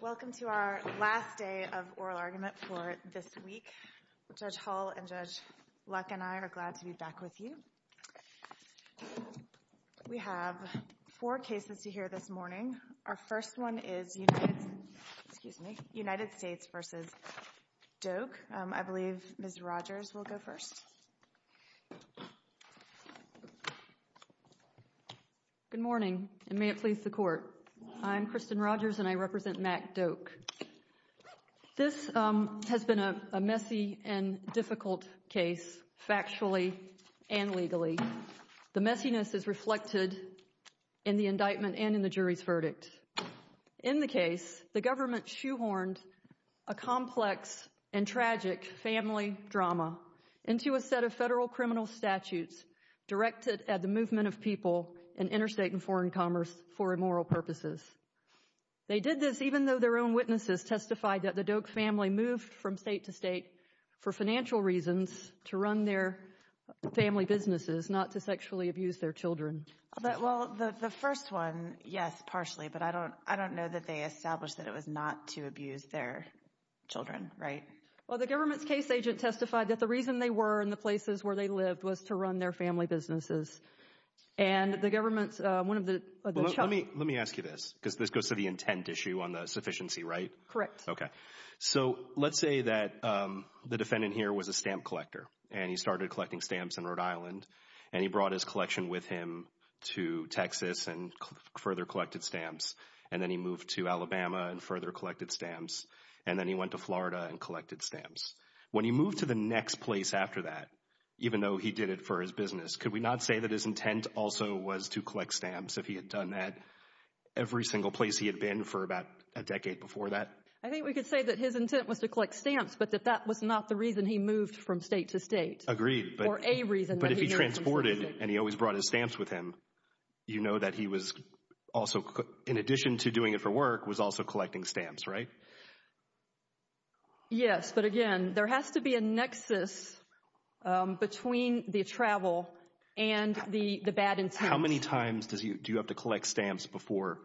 Welcome to our last day of oral argument for this week. Judge Hull and Judge Luck and I are glad to be back with you. We have four cases to hear this morning. Our first one is United States v. Doak. I believe Ms. Rogers will go first. Good morning, and may it please the Court. I'm Kristen Rogers and I represent Mack Doak. This has been a messy and difficult case, factually and legally. The messiness is reflected in the indictment and in the jury's verdict. In the case, the government shoehorned a complex and tragic family drama into a set of federal criminal statutes directed at the movement of people in interstate and foreign commerce for immoral purposes. They did this even though their own witnesses testified that the Doak family moved from state to state for financial reasons to run their family businesses, not to sexually abuse their children. Well, the first one, yes, partially, but I don't know that they established that it was not to abuse their children, right? Well, the government's case agent testified that the reason they were in the places where they lived was to run their family businesses. And the government's, one of the... Let me ask you this, because this goes to the intent issue on the sufficiency, right? Correct. Okay. So let's say that the defendant here was a stamp collector and he started collecting stamps in Rhode Island and he brought his collection with him to Texas and further collected stamps, and then he moved to Alabama and further collected stamps, and then he went to Florida and collected stamps. When he moved to the next place after that, even though he did it for his business, could we not say that his intent also was to collect stamps if he had done that every single place he had been for about a decade before that? I think we could say that his intent was to collect stamps, but that that was not the reason he moved from state to state. Or a reason that he moved from state to state. So, in addition to doing it for work, was also collecting stamps, right? Yes, but again, there has to be a nexus between the travel and the bad intent. How many times do you have to collect stamps before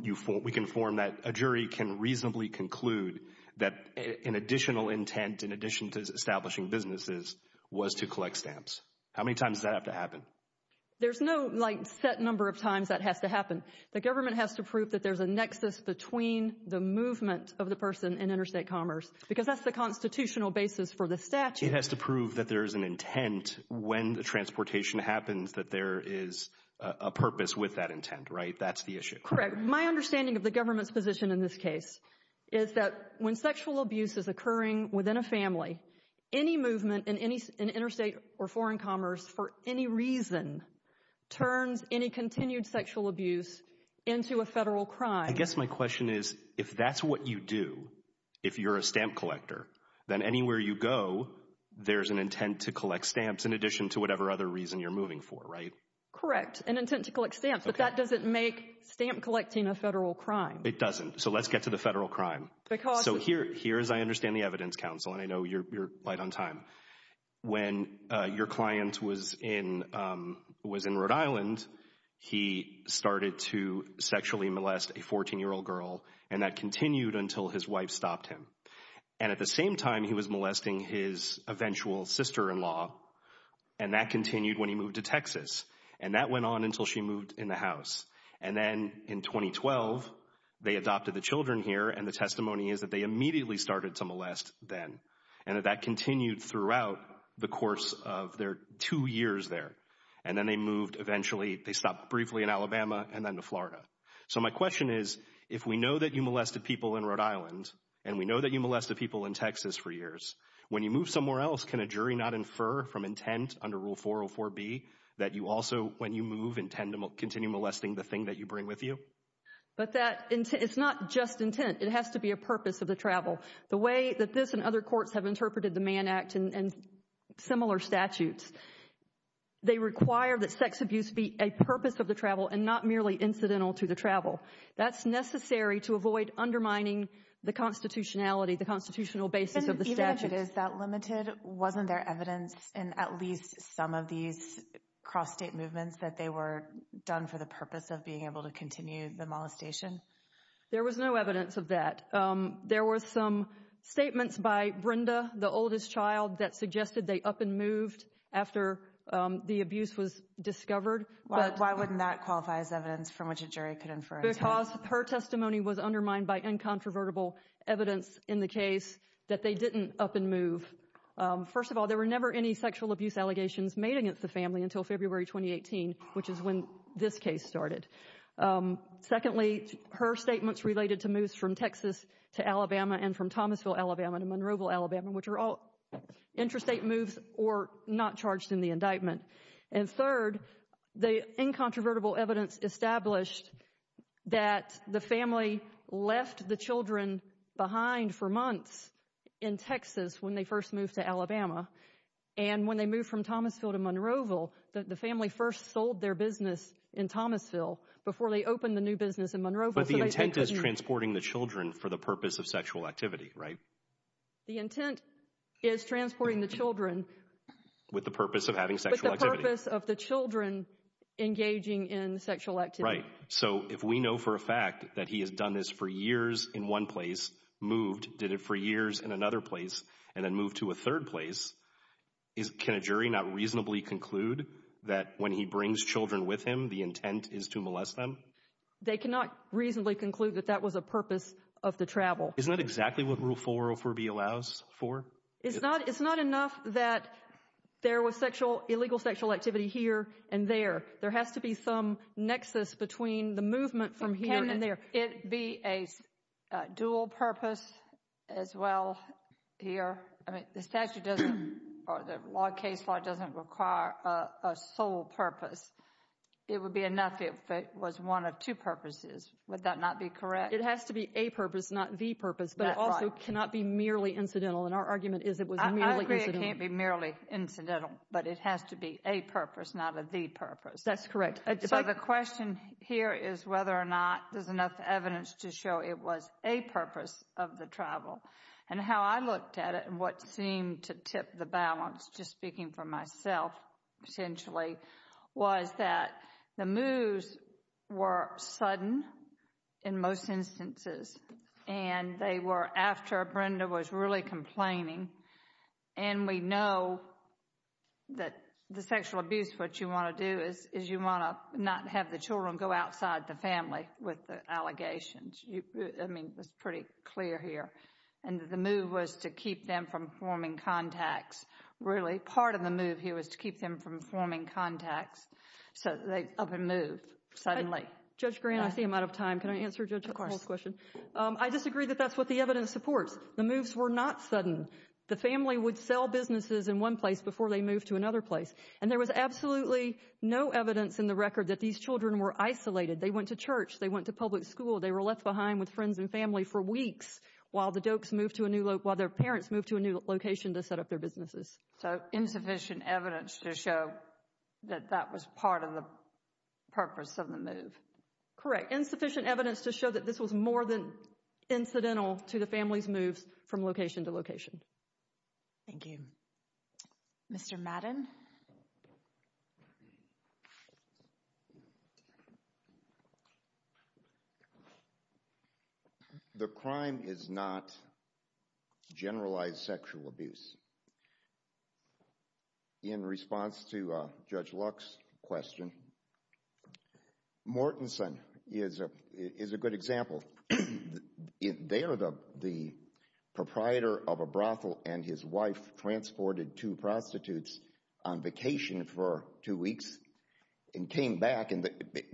we can form that a jury can reasonably conclude that an additional intent, in addition to establishing businesses, was to collect stamps? How many times does that have to happen? There's no, like, set number of times that has to happen. The government has to prove that there's a nexus between the movement of the person in interstate commerce, because that's the constitutional basis for the statute. It has to prove that there is an intent when the transportation happens, that there is a purpose with that intent, right? That's the issue. Correct. My understanding of the government's position in this case is that when sexual abuse is turns any continued sexual abuse into a federal crime. I guess my question is, if that's what you do, if you're a stamp collector, then anywhere you go, there's an intent to collect stamps in addition to whatever other reason you're moving for, right? Correct. An intent to collect stamps. But that doesn't make stamp collecting a federal crime. It doesn't. So, let's get to the federal crime. So, here, as I understand the evidence, counsel, and I know you're right on time, when your client was in Rhode Island, he started to sexually molest a 14-year-old girl, and that continued until his wife stopped him. And at the same time, he was molesting his eventual sister-in-law, and that continued when he moved to Texas. And that went on until she moved in the house. And then, in 2012, they adopted the children here, and the testimony is that they immediately started to molest then. And that continued throughout the course of their two years there. And then they moved eventually, they stopped briefly in Alabama, and then to Florida. So, my question is, if we know that you molested people in Rhode Island, and we know that you molested people in Texas for years, when you move somewhere else, can a jury not infer from intent under Rule 404B that you also, when you move, intend to continue molesting the thing that you bring with you? But that, it's not just intent. It has to be a purpose of the travel. The way that this and other courts have interpreted the Mann Act and similar statutes, they require that sex abuse be a purpose of the travel and not merely incidental to the travel. That's necessary to avoid undermining the constitutionality, the constitutional basis of the statute. And even if it is that limited, wasn't there evidence in at least some of these cross-state movements that they were done for the purpose of being able to continue the molestation? There was no evidence of that. There were some statements by Brenda, the oldest child, that suggested they up and moved after the abuse was discovered. Why wouldn't that qualify as evidence from which a jury could infer intent? Because her testimony was undermined by incontrovertible evidence in the case that they didn't up and move. First of all, there were never any sexual abuse allegations made against the family until February 2018, which is when this case started. Secondly, her statements related to moves from Texas to Alabama and from Thomasville, Alabama to Monroeville, Alabama, which are all interstate moves or not charged in the indictment. And third, the incontrovertible evidence established that the family left the children behind for months in Texas when they first moved to Alabama. And when they moved from Thomasville to Monroeville, the family first sold their business in Thomasville before they opened the new business in Monroeville. But the intent is transporting the children for the purpose of sexual activity, right? The intent is transporting the children. With the purpose of having sexual activity. With the purpose of the children engaging in sexual activity. Right. So if we know for a fact that he has done this for years in one place, moved, did it for years in another place, and then moved to a third place, can a jury not reasonably conclude that when he brings children with him, the intent is to molest them? They cannot reasonably conclude that that was a purpose of the travel. Isn't that exactly what Rule 404B allows for? It's not enough that there was illegal sexual activity here and there. There has to be some nexus between the movement from here and there. Can it be a dual purpose as well here? I mean, the statute doesn't or the case law doesn't require a sole purpose. It would be enough if it was one of two purposes. Would that not be correct? It has to be a purpose, not the purpose, but it also cannot be merely incidental. And our argument is it was merely incidental. I agree it can't be merely incidental, but it has to be a purpose, not a the purpose. That's correct. So the question here is whether or not there's enough evidence to show it was a purpose of the travel. And how I looked at it and what seemed to tip the balance, just speaking for myself essentially, was that the moves were sudden in most instances. And they were after Brenda was really complaining. And we know that the sexual abuse, what you want to do is you want to not have the children go outside the family with the allegations. I mean, it's pretty clear here. And the move was to keep them from forming contacts. Really, part of the move here was to keep them from forming contacts. So they up and moved suddenly. Judge Grant, I see I'm out of time. Can I answer Judge Hall's question? I disagree that that's what the evidence supports. The moves were not sudden. The family would sell businesses in one place before they moved to another place. And there was absolutely no evidence in the record that these children were isolated. They went to church. They went to public school. They were left behind with friends and family for weeks while the Dokes moved to a new, while their parents moved to a new location to set up their businesses. So insufficient evidence to show that that was part of the purpose of the move. Correct. Insufficient evidence to show that this was more than incidental to the family's moves from location to location. Thank you. Mr. Madden. The crime is not generalized sexual abuse. In response to Judge Luck's question, Mortenson is a good example. They are the proprietor of a brothel and his wife transported two prostitutes on vacation for two weeks and came back and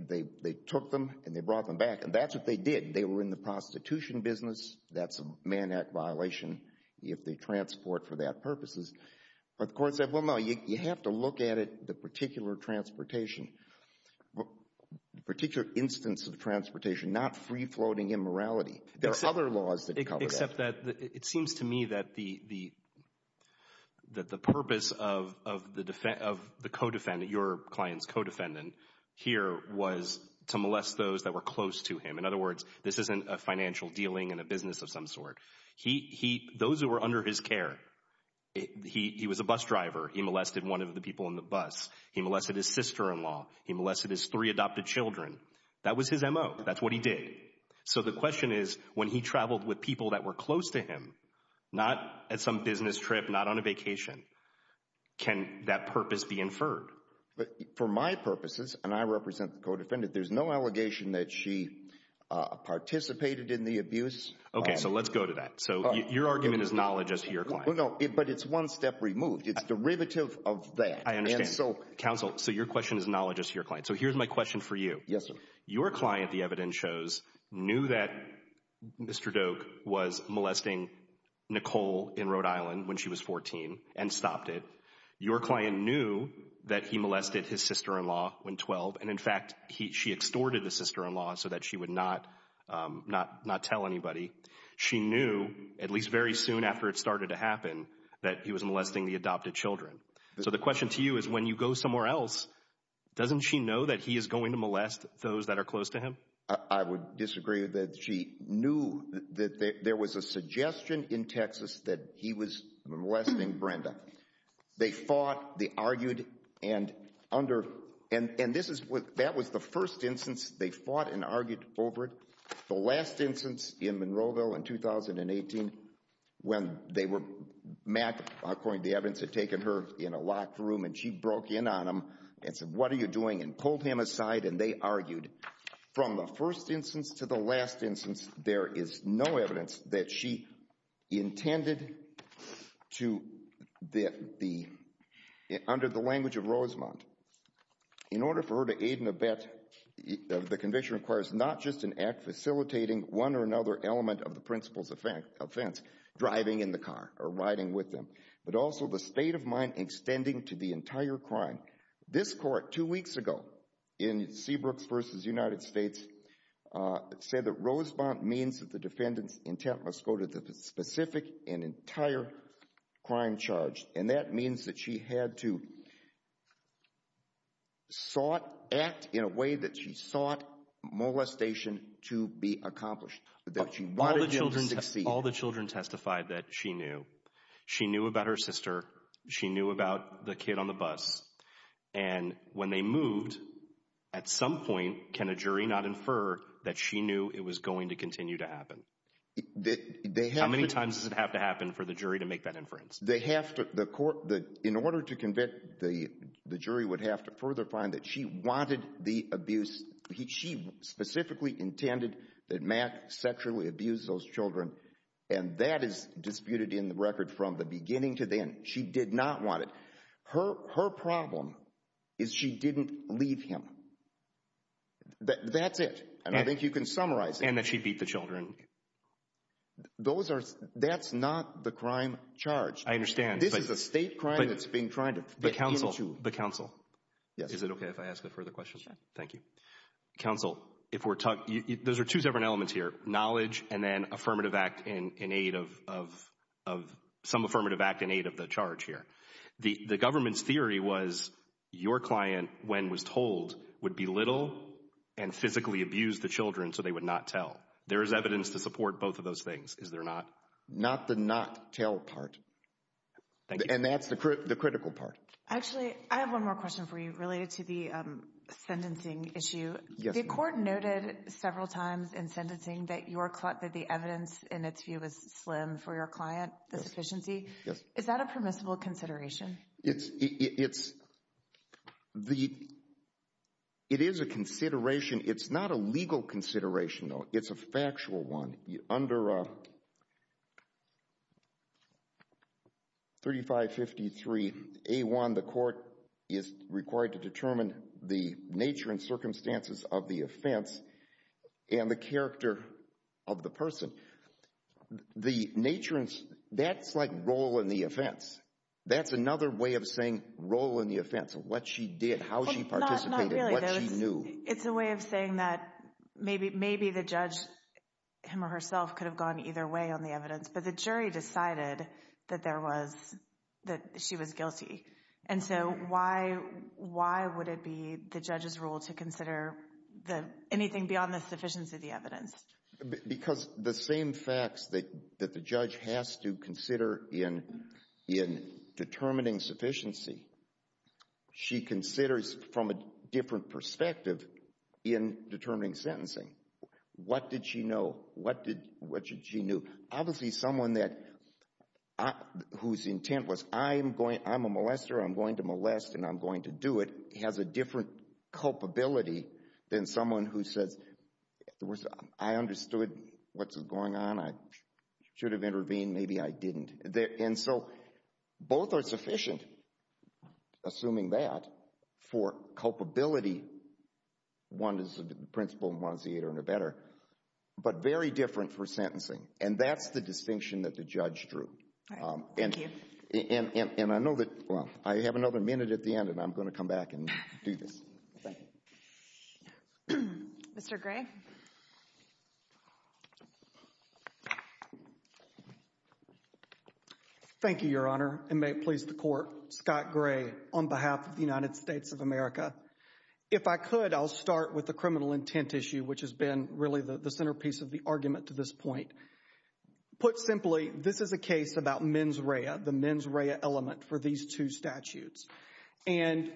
they took them and they brought them back. That's what they did. They were in the prostitution business. That's a Man Act violation if they transport for that purposes. But the court said, well, no, you have to look at it, the particular transportation, the particular instance of transportation, not free-floating immorality. There are other laws that cover that. Except that it seems to me that the purpose of the co-defendant, your client's co-defendant here was to molest those that were close to him. In other words, this isn't a financial dealing in a business of some sort. Those who were under his care, he was a bus driver. He molested one of the people in the bus. He molested his sister-in-law. He molested his three adopted children. That was his M.O. That's what he did. So the question is, when he traveled with people that were close to him, not at some business trip, not on a vacation, can that purpose be inferred? For my purposes, and I represent the co-defendant, there's no allegation that she participated in the abuse. Okay, so let's go to that. So your argument is knowledge as to your client. But it's one step removed. It's derivative of that. I understand. Counsel, so your question is knowledge as to your client. So here's my question for you. Yes, sir. Your client, the evidence shows, knew that Mr. Doak was molesting Nicole in Rhode Island when she was 14 and stopped it. Your client knew that he molested his sister-in-law when 12. And in fact, she extorted the sister-in-law so that she would not tell anybody. She knew, at least very soon after it started to happen, that he was molesting the adopted children. So the question to you is, when you go somewhere else, doesn't she know that he is going to molest those that are close to him? I would disagree that she knew that there was a suggestion in Texas that he was molesting Brenda. They fought. They argued. And that was the first instance they fought and argued over it. The last instance, in Monroeville in 2018, when Matt, according to the evidence, had taken her in a locked room. And she broke in on him and said, what are you doing? And pulled him aside. And they argued. From the first instance to the last instance, there is no evidence that she intended to, under the language of Rosemont, in order for her to aid and abet, the conviction requires not just an act facilitating one or another element of the principal's offense, driving in the car or riding with them, but also the state of mind extending to the entire crime. This court, two weeks ago, in Seabrooks v. United States, said that Rosemont means that the defendant's intent must go to the specific and entire crime charge. And that means that she had to sought, act in a way that she sought molestation to be accomplished. All the children testified that she knew. She knew about her sister. She knew about the kid on the bus. And when they moved, at some point, can a jury not infer that she knew it was going to continue to happen? How many times does it have to happen for the jury to make that inference? In order to convict, the jury would have to further find that she wanted the abuse. She specifically intended that Mack sexually abused those children. And that is disputed in the record from the beginning to the end. She did not want it. Her problem is she didn't leave him. That's it. And I think you can summarize it. And that she beat the children. Those are, that's not the crime charge. I understand. This is a state crime that's being tried to get into. The counsel, the counsel. Is it okay if I ask a further question? Thank you. Counsel, if we're talking, those are two different elements here. Knowledge and then affirmative act in aid of, some affirmative act in aid of the charge here. The government's theory was your client, when was told, would belittle and physically abuse the children so they would not tell. There is evidence to support both of those things, is there not? Not the not tell part. And that's the critical part. Actually, I have one more question for you related to the sentencing issue. The court noted several times in sentencing that your, that the evidence in its view is slim for your client, the sufficiency. Is that a permissible consideration? It's, it's, the, it is a consideration. It's not a legal consideration, though. It's a factual one. Under 3553A1, the court is required to determine the nature and circumstances of the offense and the character of the person. So, the nature and, that's like role in the offense. That's another way of saying role in the offense. What she did, how she participated, what she knew. It's a way of saying that maybe, maybe the judge, him or herself could have gone either way on the evidence, but the jury decided that there was, that she was guilty. And so why, why would it be the judge's role to consider the, anything beyond the sufficiency of the evidence? Because the same facts that, that the judge has to consider in, in determining sufficiency, she considers from a different perspective in determining sentencing. What did she know? What did, what did she knew? Obviously, someone that, whose intent was, I'm going, I'm a molester, I'm going to molest, and I'm going to do it, has a different culpability than someone who says, in other words, I understood what's going on. I should have intervened, maybe I didn't. And so, both are sufficient, assuming that, for culpability. One is the principal and one is the interim or better. But very different for sentencing. And that's the distinction that the judge drew. All right, thank you. And, and, and I know that, well, I have another minute at the end, and I'm going to come back and do this. Okay. Mr. Gray. Thank you, Your Honor, and may it please the Court. Scott Gray, on behalf of the United States of America. If I could, I'll start with the criminal intent issue, which has been really the centerpiece of the argument to this point. Put simply, this is a case about mens rea, the mens rea element for these two statutes. And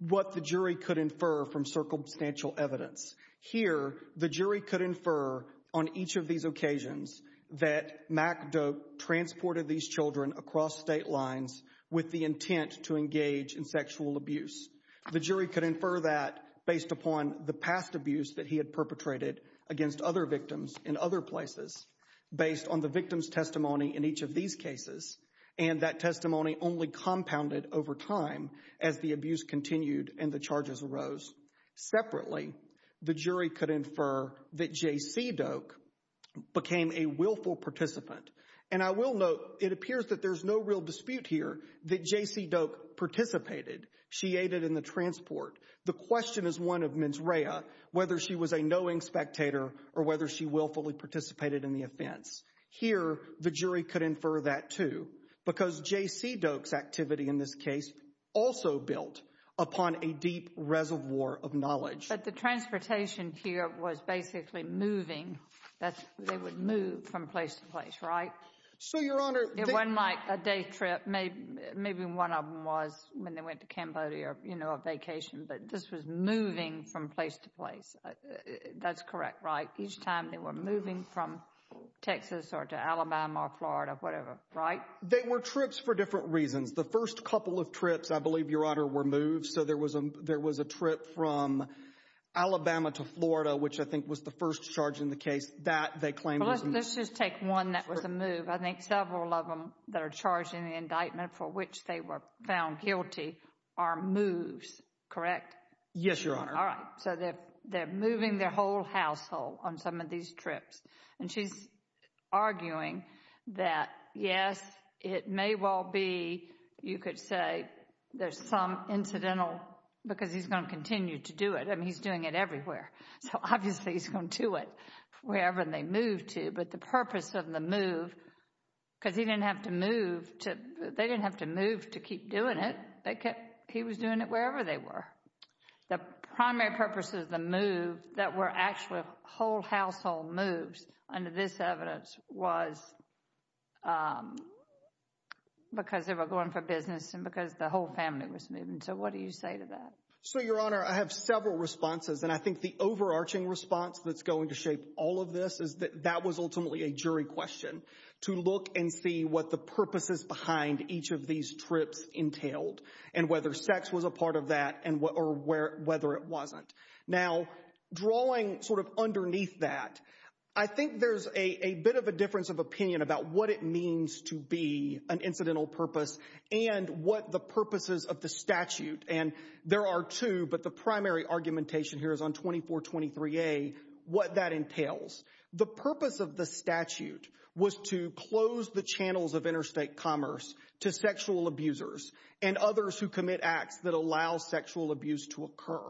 what the jury could infer from circumstantial evidence. Here, the jury could infer, on each of these occasions, that Mac Doak transported these children across state lines with the intent to engage in sexual abuse. The jury could infer that based upon the past abuse that he had perpetrated against other victims in other places, based on the victim's testimony in each of these cases. And that testimony only compounded over time as the abuse continued and the charges arose. Separately, the jury could infer that J.C. Doak became a willful participant. And I will note, it appears that there's no real dispute here that J.C. Doak participated. She aided in the transport. The question is one of mens rea, whether she was a knowing spectator or whether she willfully participated in the offense. Here, the jury could infer that, too, because J.C. Doak's activity in this case also built upon a deep reservoir of knowledge. But the transportation here was basically moving. They would move from place to place, right? So, Your Honor. It wasn't like a day trip. Maybe one of them was when they went to Cambodia, you know, a vacation. But this was moving from place to place. That's correct, right? Each time they were moving from Texas or to Alabama or Florida, whatever, right? They were trips for different reasons. The first couple of trips, I believe, Your Honor, were moves. So there was a trip from Alabama to Florida, which I think was the first charge in the case. That, they claim, was a move. Let's just take one that was a move. I think several of them that are charged in the indictment for which they were found guilty are moves, correct? Yes, Your Honor. All right. So they're moving their whole household on some of these trips. And she's arguing that, yes, it may well be, you could say, there's some incidental, because he's going to continue to do it. I mean, he's doing it everywhere. So obviously, he's going to do it wherever they move to. But the purpose of the move, because he didn't have to move to, they didn't have to move to keep doing it. They kept, he was doing it wherever they were. The primary purpose of the move that were actual whole household moves under this evidence was because they were going for business and because the whole family was moving. So what do you say to that? So, Your Honor, I have several responses. And I think the overarching response that's going to shape all of this is that that was ultimately a jury question to look and see what the purposes behind each of these trips entailed and whether sex was a part of that or whether it wasn't. Now, drawing sort of underneath that, I think there's a bit of a difference of opinion about what it means to be an incidental purpose and what the purposes of the statute. And there are two, but the primary argumentation here is on 2423A, what that entails. The purpose of the statute was to close the channels of interstate commerce to sexual abusers and others who commit acts that allow sexual abuse to occur.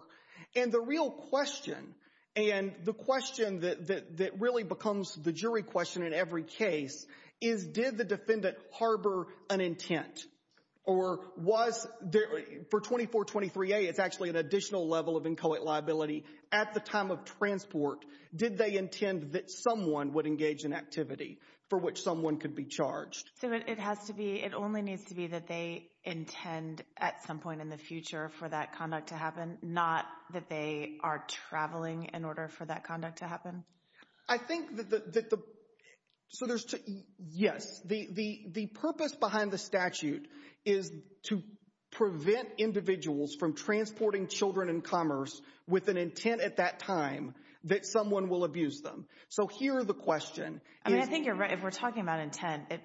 And the real question, and the question that really becomes the jury question in every case, is did the defendant harbor an intent? Or was there, for 2423A, it's actually an additional level of inchoate liability. At the time of transport, did they intend that someone would engage in activity for which someone could be charged? So it has to be, it only needs to be that they intend at some point in the future for that conduct to happen, not that they are traveling in order for that conduct to happen? I think that the, so there's two, yes, the purpose behind the statute is to prevent individuals from transporting children in commerce with an intent at that time that someone will abuse them. So here the question is- I mean, I think you're right. We're talking about intent. It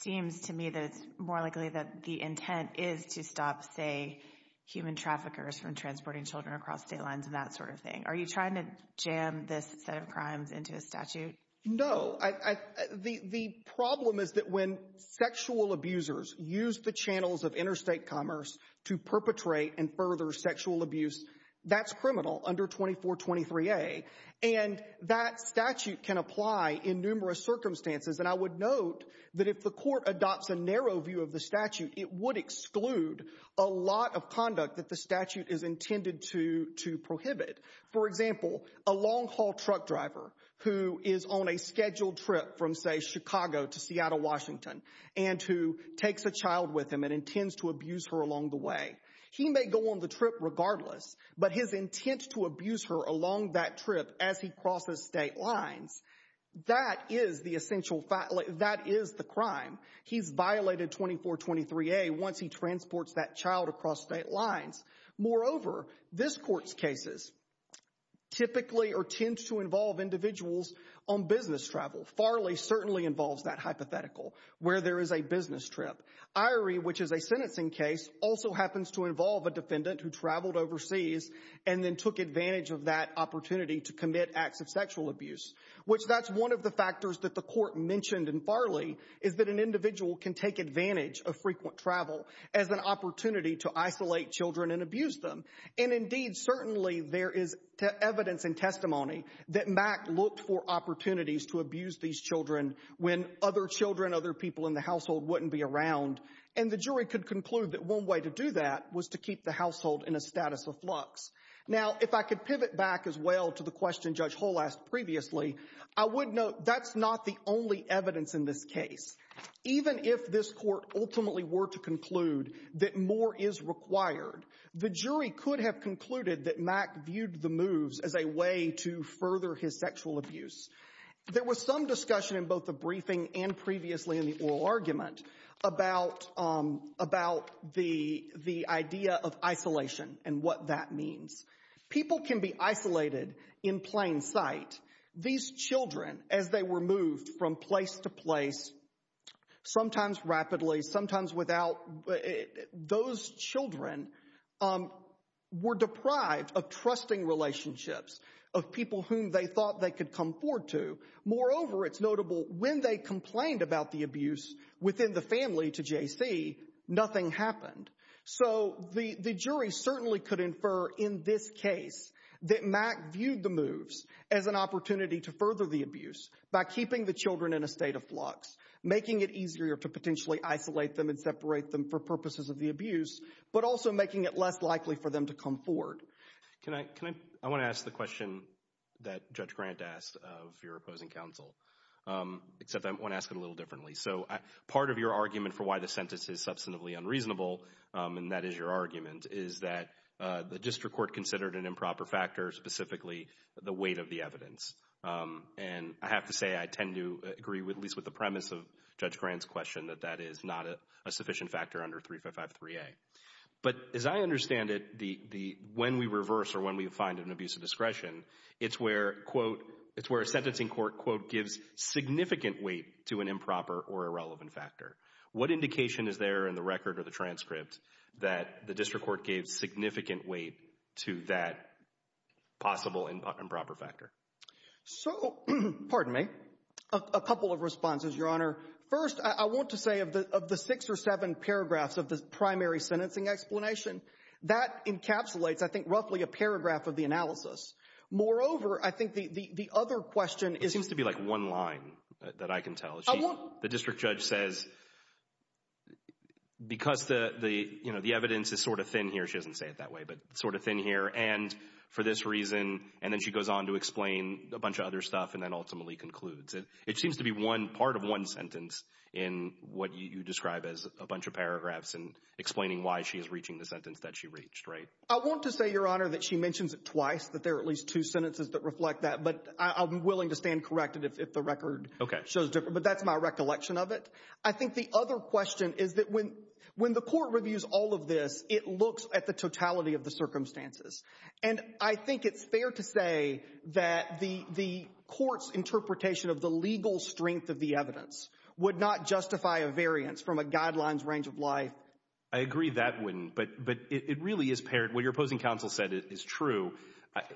seems to me that it's more likely that the intent is to stop, say, human traffickers from transporting children across state lines and that sort of thing. Are you trying to jam this set of crimes into a statute? No, the problem is that when sexual abusers use the channels of interstate commerce to perpetrate and further sexual abuse, that's criminal under 2423A. And that statute can apply in numerous circumstances. And I would note that if the court adopts a narrow view of the statute, it would exclude a lot of conduct that the statute is intended to prohibit. For example, a long haul truck driver who is on a scheduled trip from, say, Chicago to Seattle, Washington, and who takes a child with him and intends to abuse her along the way. He may go on the trip regardless, but his intent to abuse her along that trip as he crosses state lines, that is the essential fact. That is the crime. He's violated 2423A once he transports that child across state lines. Moreover, this court's cases typically or tend to involve individuals on business travel. Farley certainly involves that hypothetical where there is a business trip. Irie, which is a sentencing case, also happens to involve a defendant who traveled overseas and then took advantage of that opportunity to commit acts of sexual abuse. Which that's one of the factors that the court mentioned in Farley is that an individual can take advantage of frequent travel as an opportunity to isolate children and abuse them. And indeed, certainly there is evidence and testimony that Mack looked for opportunities to abuse these children when other children, other people in the household wouldn't be around. And the jury could conclude that one way to do that was to keep the household in a status of flux. Now, if I could pivot back as well to the question Judge Hull asked previously, I would note that's not the only evidence in this case. Even if this court ultimately were to conclude that more is required, the jury could have concluded that Mack viewed the moves as a way to further his sexual abuse. There was some discussion in both the briefing and previously in the oral argument about the idea of isolation and what that means. People can be isolated in plain sight. These children, as they were moved from place to place, sometimes rapidly, sometimes without, those children were deprived of trusting relationships of people whom they thought they could come forward to. Moreover, it's notable when they complained about the abuse within the family to J.C., nothing happened. So the jury certainly could infer in this case that Mack viewed the moves as an opportunity to further the abuse by keeping the children in a state of flux, making it easier to potentially isolate them and separate them for purposes of the abuse, but also making it less likely for them to come forward. Can I, I want to ask the question that Judge Grant asked of your opposing counsel, except I want to ask it a little differently. So part of your argument for why the sentence is substantively unreasonable, and that is your argument, is that the district court considered an improper factor, specifically the weight of the evidence. And I have to say, I tend to agree with, at least with the premise of Judge Grant's question that that is not a sufficient factor under 3553A. But as I understand it, when we reverse or when we find an abuse of discretion, it's where, quote, it's where a sentencing court, quote, gives significant weight to an improper or irrelevant factor. What indication is there in the record or the transcript that the district court gave significant weight to that possible improper factor? So, pardon me, a couple of responses, Your Honor. First, I want to say of the six or seven paragraphs of the primary sentencing explanation, that encapsulates, I think, roughly a paragraph of the analysis. Moreover, I think the other question is... Seems to be like one line that I can tell. The district judge says, because the evidence is sort of thin here, she doesn't say it that way, but sort of thin here, and for this reason, and then she goes on to explain a bunch of other stuff and then ultimately concludes. It seems to be one part of one sentence in what you describe as a bunch of paragraphs and explaining why she is reaching the sentence that she reached, right? I want to say, Your Honor, that she mentions it twice, that there are at least two sentences that reflect that, but I'm willing to stand corrected if the record shows different, but that's my recollection of it. I think the other question is that when the court reviews all of this, it looks at the totality of the circumstances, and I think it's fair to say that the court's interpretation of the legal strength of the evidence would not justify a variance from a guidelines range of life. I agree that wouldn't, but it really is paired. What your opposing counsel said is true.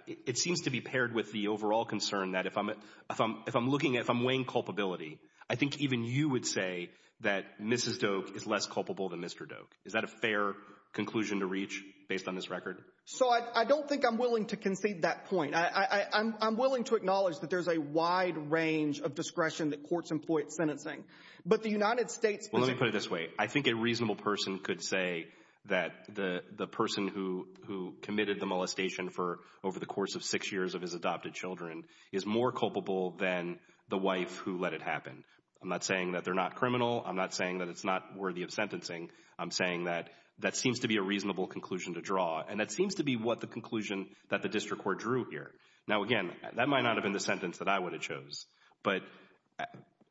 It seems to be paired with the overall concern that if I'm weighing culpability, I think even you would say that Mrs. Doak is less culpable than Mr. Doak. Is that a fair conclusion to reach based on this record? So I don't think I'm willing to concede that point. I'm willing to acknowledge that there's a wide range of discretion that courts employ at sentencing, but the United States— Well, let me put it this way. I think a reasonable person could say that the person who committed the molestation for over the course of six years of his adopted children is more culpable than the wife who let it happen. I'm not saying that they're not criminal. I'm not saying that it's not worthy of sentencing. I'm saying that that seems to be a reasonable conclusion to draw, and that seems to be what the conclusion that the district court drew here. Now, again, that might not have been the sentence that I would have chose, but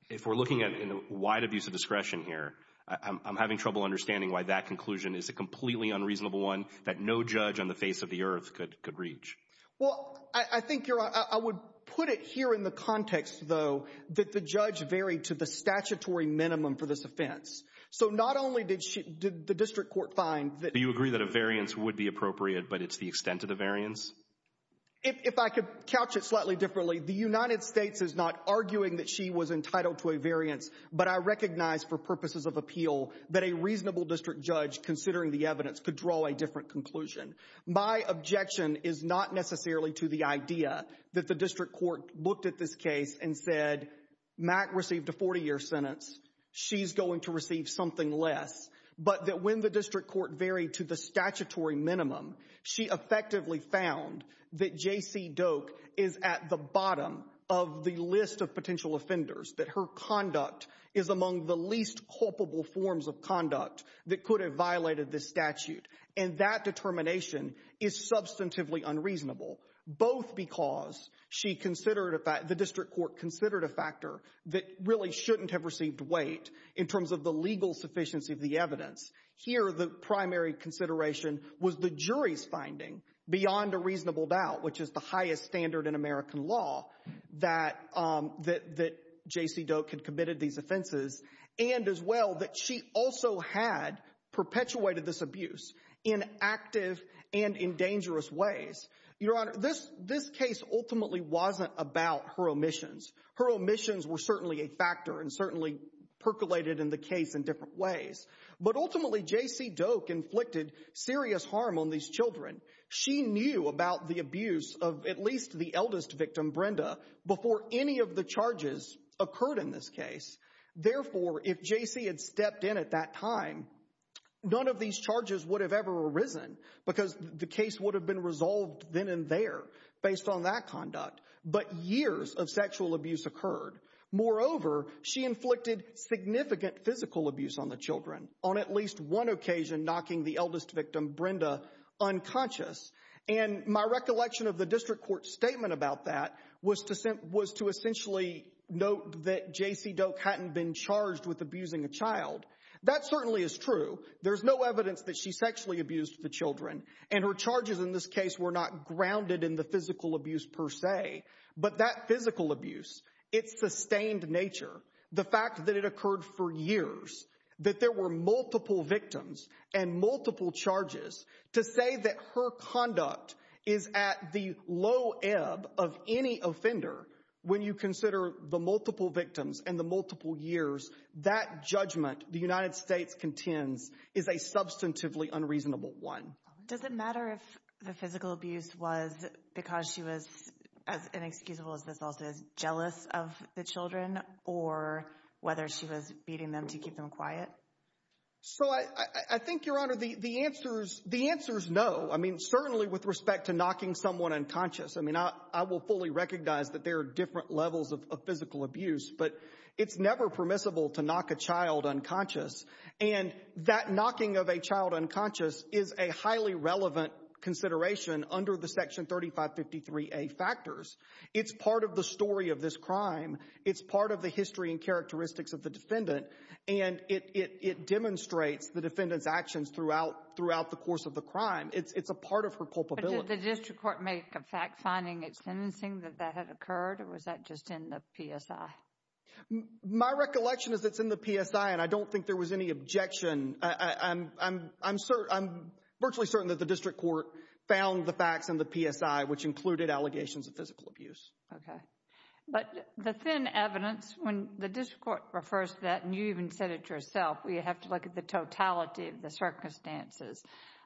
if we're looking at wide abuse of discretion here, I'm having trouble understanding why that conclusion is a completely unreasonable one that no judge on the face of the earth could reach. Well, I think you're— I would put it here in the context, though, that the judge varied to the statutory minimum for this offense. So not only did the district court find that— Do you agree that a variance would be appropriate, but it's the extent of the variance? If I could couch it slightly differently, the United States is not arguing that she was entitled to a variance, but I recognize for purposes of appeal that a reasonable district judge, considering the evidence, could draw a different conclusion. My objection is not necessarily to the idea that the district court looked at this case and said, Mack received a 40-year sentence. She's going to receive something less. But that when the district court varied to the statutory minimum, she effectively found that J.C. Doak is at the bottom of the list of potential offenders, that her conduct is among the least culpable forms of conduct that could have violated this statute. And that determination is substantively unreasonable, both because she considered— the district court considered a factor that really shouldn't have received weight in terms of the legal sufficiency of the evidence. Here, the primary consideration was the jury's finding, beyond a reasonable doubt, which is the highest standard in American law, that J.C. Doak had committed these offenses, and as well that she also had perpetuated this abuse in active and in dangerous ways. Your Honor, this case ultimately wasn't about her omissions. Her omissions were certainly a factor and certainly percolated in the case in different ways. But ultimately, J.C. Doak inflicted serious harm on these children. She knew about the abuse of at least the eldest victim, Brenda, before any of the charges occurred in this case. Therefore, if J.C. had stepped in at that time, none of these charges would have ever arisen because the case would have been resolved then and there based on that conduct. But years of sexual abuse occurred. Moreover, she inflicted significant physical abuse on the children, on at least one occasion, knocking the eldest victim, Brenda, unconscious. And my recollection of the district court statement about that was to essentially note that J.C. Doak hadn't been charged with abusing a child. That certainly is true. There's no evidence that she sexually abused the children. And her charges in this case were not grounded in the physical abuse per se. But that physical abuse, its sustained nature, the fact that it occurred for years, that there were multiple victims, and multiple charges, to say that her conduct is at the low ebb of any offender when you consider the multiple victims and the multiple years, that judgment the United States contends is a substantively unreasonable one. Does it matter if the physical abuse was because she was, as inexcusable as this also is, jealous of the children, or whether she was beating them to keep them quiet? So I think, Your Honor, the answer's no. I mean, certainly with respect to knocking someone unconscious. I mean, I will fully recognize that there are different levels of physical abuse, but it's never permissible to knock a child unconscious. And that knocking of a child unconscious is a highly relevant consideration under the Section 3553A factors. It's part of the story of this crime. It's part of the history and characteristics of the defendant. And it demonstrates the defendant's actions throughout the course of the crime. It's a part of her culpability. But did the district court make a fact-finding at sentencing that that had occurred, or was that just in the PSI? My recollection is it's in the PSI, and I don't think there was any objection. I'm virtually certain that the district court found the facts in the PSI, which included allegations of physical abuse. Okay. But the thin evidence, when the district court refers to that, and you even said it yourself, we have to look at the totality of the circumstances.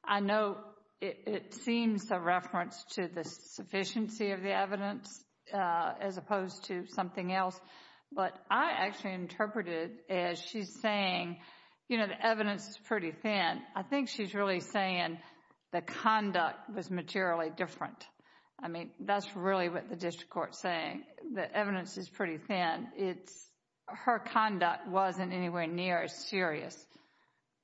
I know it seems a reference to the sufficiency of the evidence as opposed to something else. But I actually interpreted as she's saying, you know, the evidence is pretty thin. I think she's really saying the conduct was materially different. I mean, that's really what the district court's saying. The evidence is pretty thin. It's her conduct wasn't anywhere near as serious.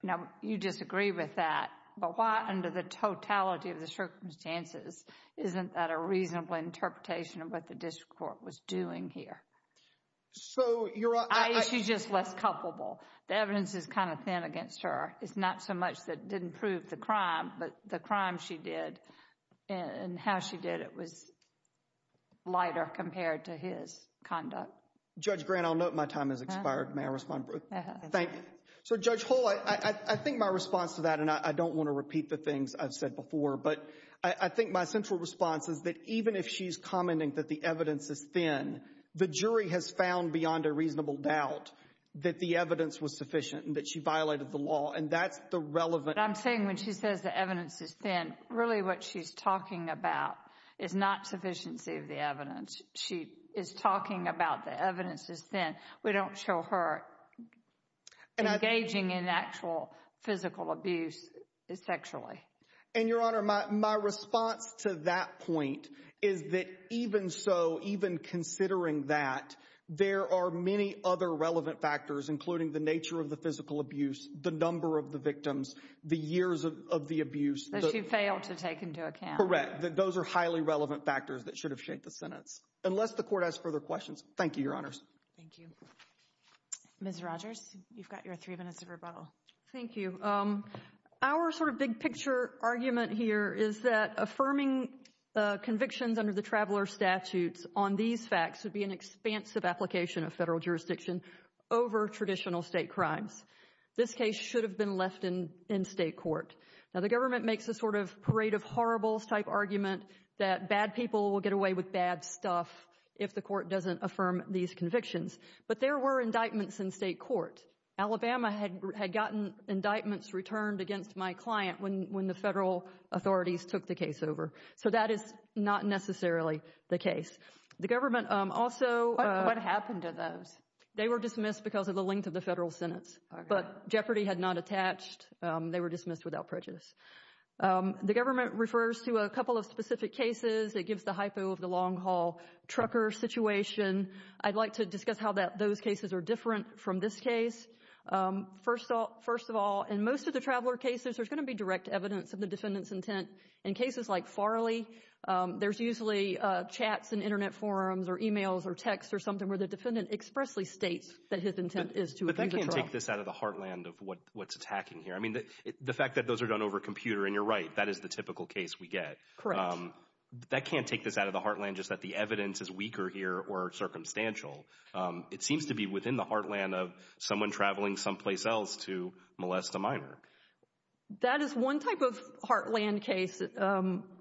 Now, you disagree with that. But why, under the totality of the circumstances, isn't that a reasonable interpretation of what the district court was doing here? So you're— I mean, she's just less culpable. The evidence is kind of thin against her. It's not so much that it didn't prove the crime, but the crime she did and how she did it was lighter compared to his conduct. Judge Grant, I'll note my time has expired. May I respond, Ruth? Thank you. So, Judge Hull, I think my response to that, and I don't want to repeat the things I've said before, but I think my central response is that even if she's commenting that the evidence is thin, the jury has found beyond a reasonable doubt that the evidence was sufficient and that she violated the law. And that's the relevant— I'm saying when she says the evidence is thin, really what she's talking about is not sufficiency of the evidence. She is talking about the evidence is thin. We don't show her engaging in actual physical abuse sexually. And, Your Honor, my response to that point is that even so, even considering that, there are many other relevant factors, including the nature of the physical abuse, the number of the victims, the years of the abuse— That she failed to take into account. Correct. Those are highly relevant factors that should have shaped the sentence, unless the court has further questions. Thank you, Your Honors. Thank you. Ms. Rogers, you've got your three minutes of rebuttal. Thank you. Our sort of big-picture argument here is that affirming convictions under the traveler statutes on these facts would be an expansive application of federal jurisdiction over traditional state crimes. This case should have been left in state court. Now, the government makes a sort of parade of horribles-type argument that bad people will get away with bad stuff if the court doesn't affirm these convictions. But there were indictments in state court. Alabama had gotten indictments returned against my client when the federal authorities took the case over. So that is not necessarily the case. The government also— What happened to those? They were dismissed because of the length of the federal sentence. But jeopardy had not attached. They were dismissed without prejudice. The government refers to a couple of specific cases. It gives the hypo of the long-haul trucker situation. I'd like to discuss how those cases are different from this case. First of all, in most of the traveler cases, there's going to be direct evidence of the defendant's intent. In cases like Farley, there's usually chats in Internet forums or emails or texts or something where the defendant expressly states that his intent is to appeal the trial. But they can't take this out of the heartland of what's attacking here. The fact that those are done over a computer, and you're right, that is the typical case we get. That can't take this out of the heartland just that the evidence is weaker here or circumstantial. It seems to be within the heartland of someone traveling someplace else to molest a minor. That is one type of heartland case.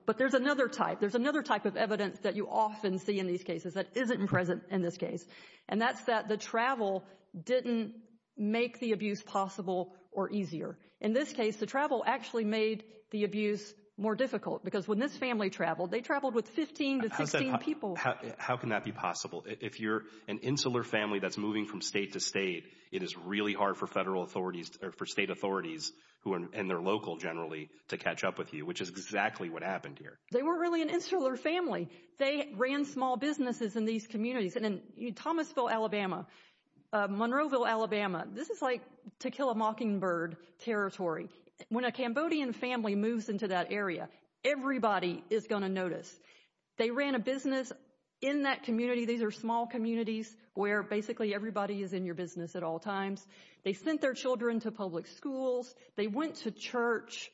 But there's another type. There's another type of evidence that you often see in these cases that isn't present in this case. And that's that the travel didn't make the abuse possible or easier. In this case, the travel actually made the abuse more difficult because when this family traveled, they traveled with 15 to 16 people. How can that be possible? If you're an insular family that's moving from state to state, it is really hard for federal authorities or for state authorities who are in their local generally to catch up with you, which is exactly what happened here. They weren't really an insular family. They ran small businesses in these communities. And in Thomasville, Alabama, Monroeville, Alabama, this is like to kill a mockingbird territory. When a Cambodian family moves into that area, everybody is going to notice. They ran a business in that community. These are small communities where basically everybody is in your business at all times. They sent their children to public schools. They went to church.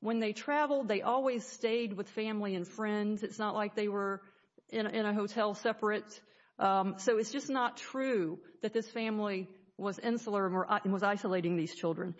When they traveled, they always stayed with family and friends. It's not like they were in a hotel separate. So it's just not true that this family was insular and was isolating these children.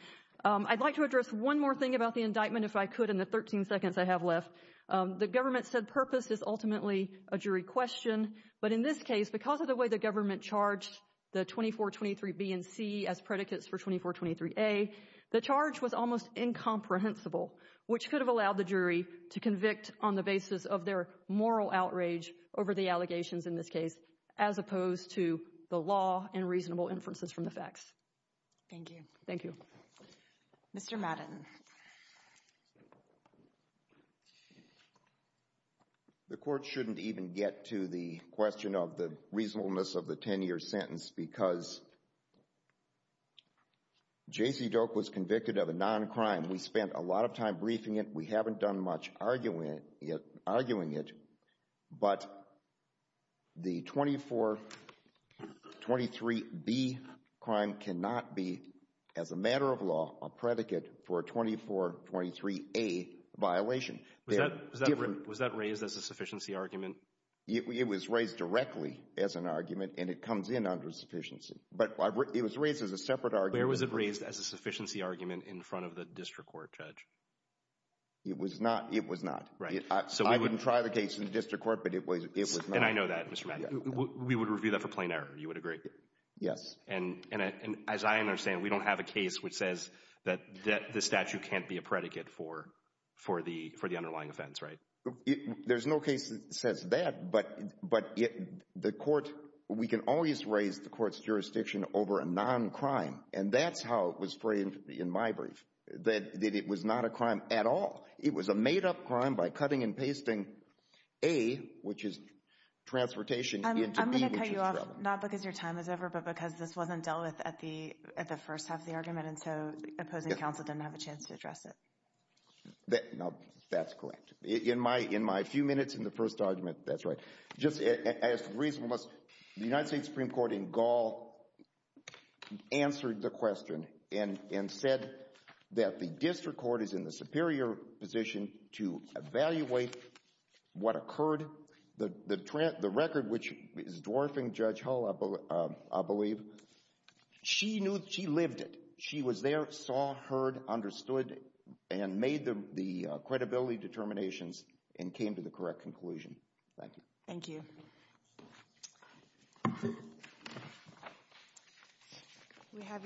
I'd like to address one more thing about the indictment, if I could, in the 13 seconds I have left. The government said purpose is ultimately a jury question. But in this case, because of the way the government charged the 2423B and C as predicates for 2423A, the charge was almost incomprehensible, which could have allowed the jury to convict on the basis of their moral outrage over the allegations in this case, as opposed to the law and reasonable inferences from the facts. Thank you. Thank you. Mr. Madden. The court shouldn't even get to the question of the reasonableness of the 10-year sentence because J.C. Doak was convicted of a non-crime. We spent a lot of time briefing it. We haven't done much arguing it. But the 2423B crime cannot be, as a matter of law, a predicate for a 2423A violation. Was that raised as a sufficiency argument? It was raised directly as an argument, and it comes in under sufficiency. But it was raised as a separate argument. Where was it raised as a sufficiency argument in front of the district court judge? It was not. It was not. Right. I wouldn't try the case in the district court, but it was not. And I know that, Mr. Madden. We would review that for plain error. You would agree? Yes. And as I understand, we don't have a case which says that the statute can't be a predicate for the underlying offense, right? There's no case that says that. But the court, we can always raise the court's jurisdiction over a non-crime. And that's how it was framed in my brief, that it was not a crime at all. It was a made-up crime by cutting and pasting A, which is transportation, into B, which is travel. I'm going to cut you off, not because your time is over, but because this wasn't dealt with at the first half of the argument, and so opposing counsel didn't have a chance to address it. No, that's correct. In my few minutes in the first argument, that's right. Just as reasonableness, the United States Supreme Court in Gaul answered the question and said that the district court is in the superior position to evaluate what occurred. The record, which is dwarfing Judge Hull, I believe, she knew, she lived it. She was there, saw, heard, understood, and made the credibility determinations and came to the correct conclusion. Thank you. Thank you. We have your...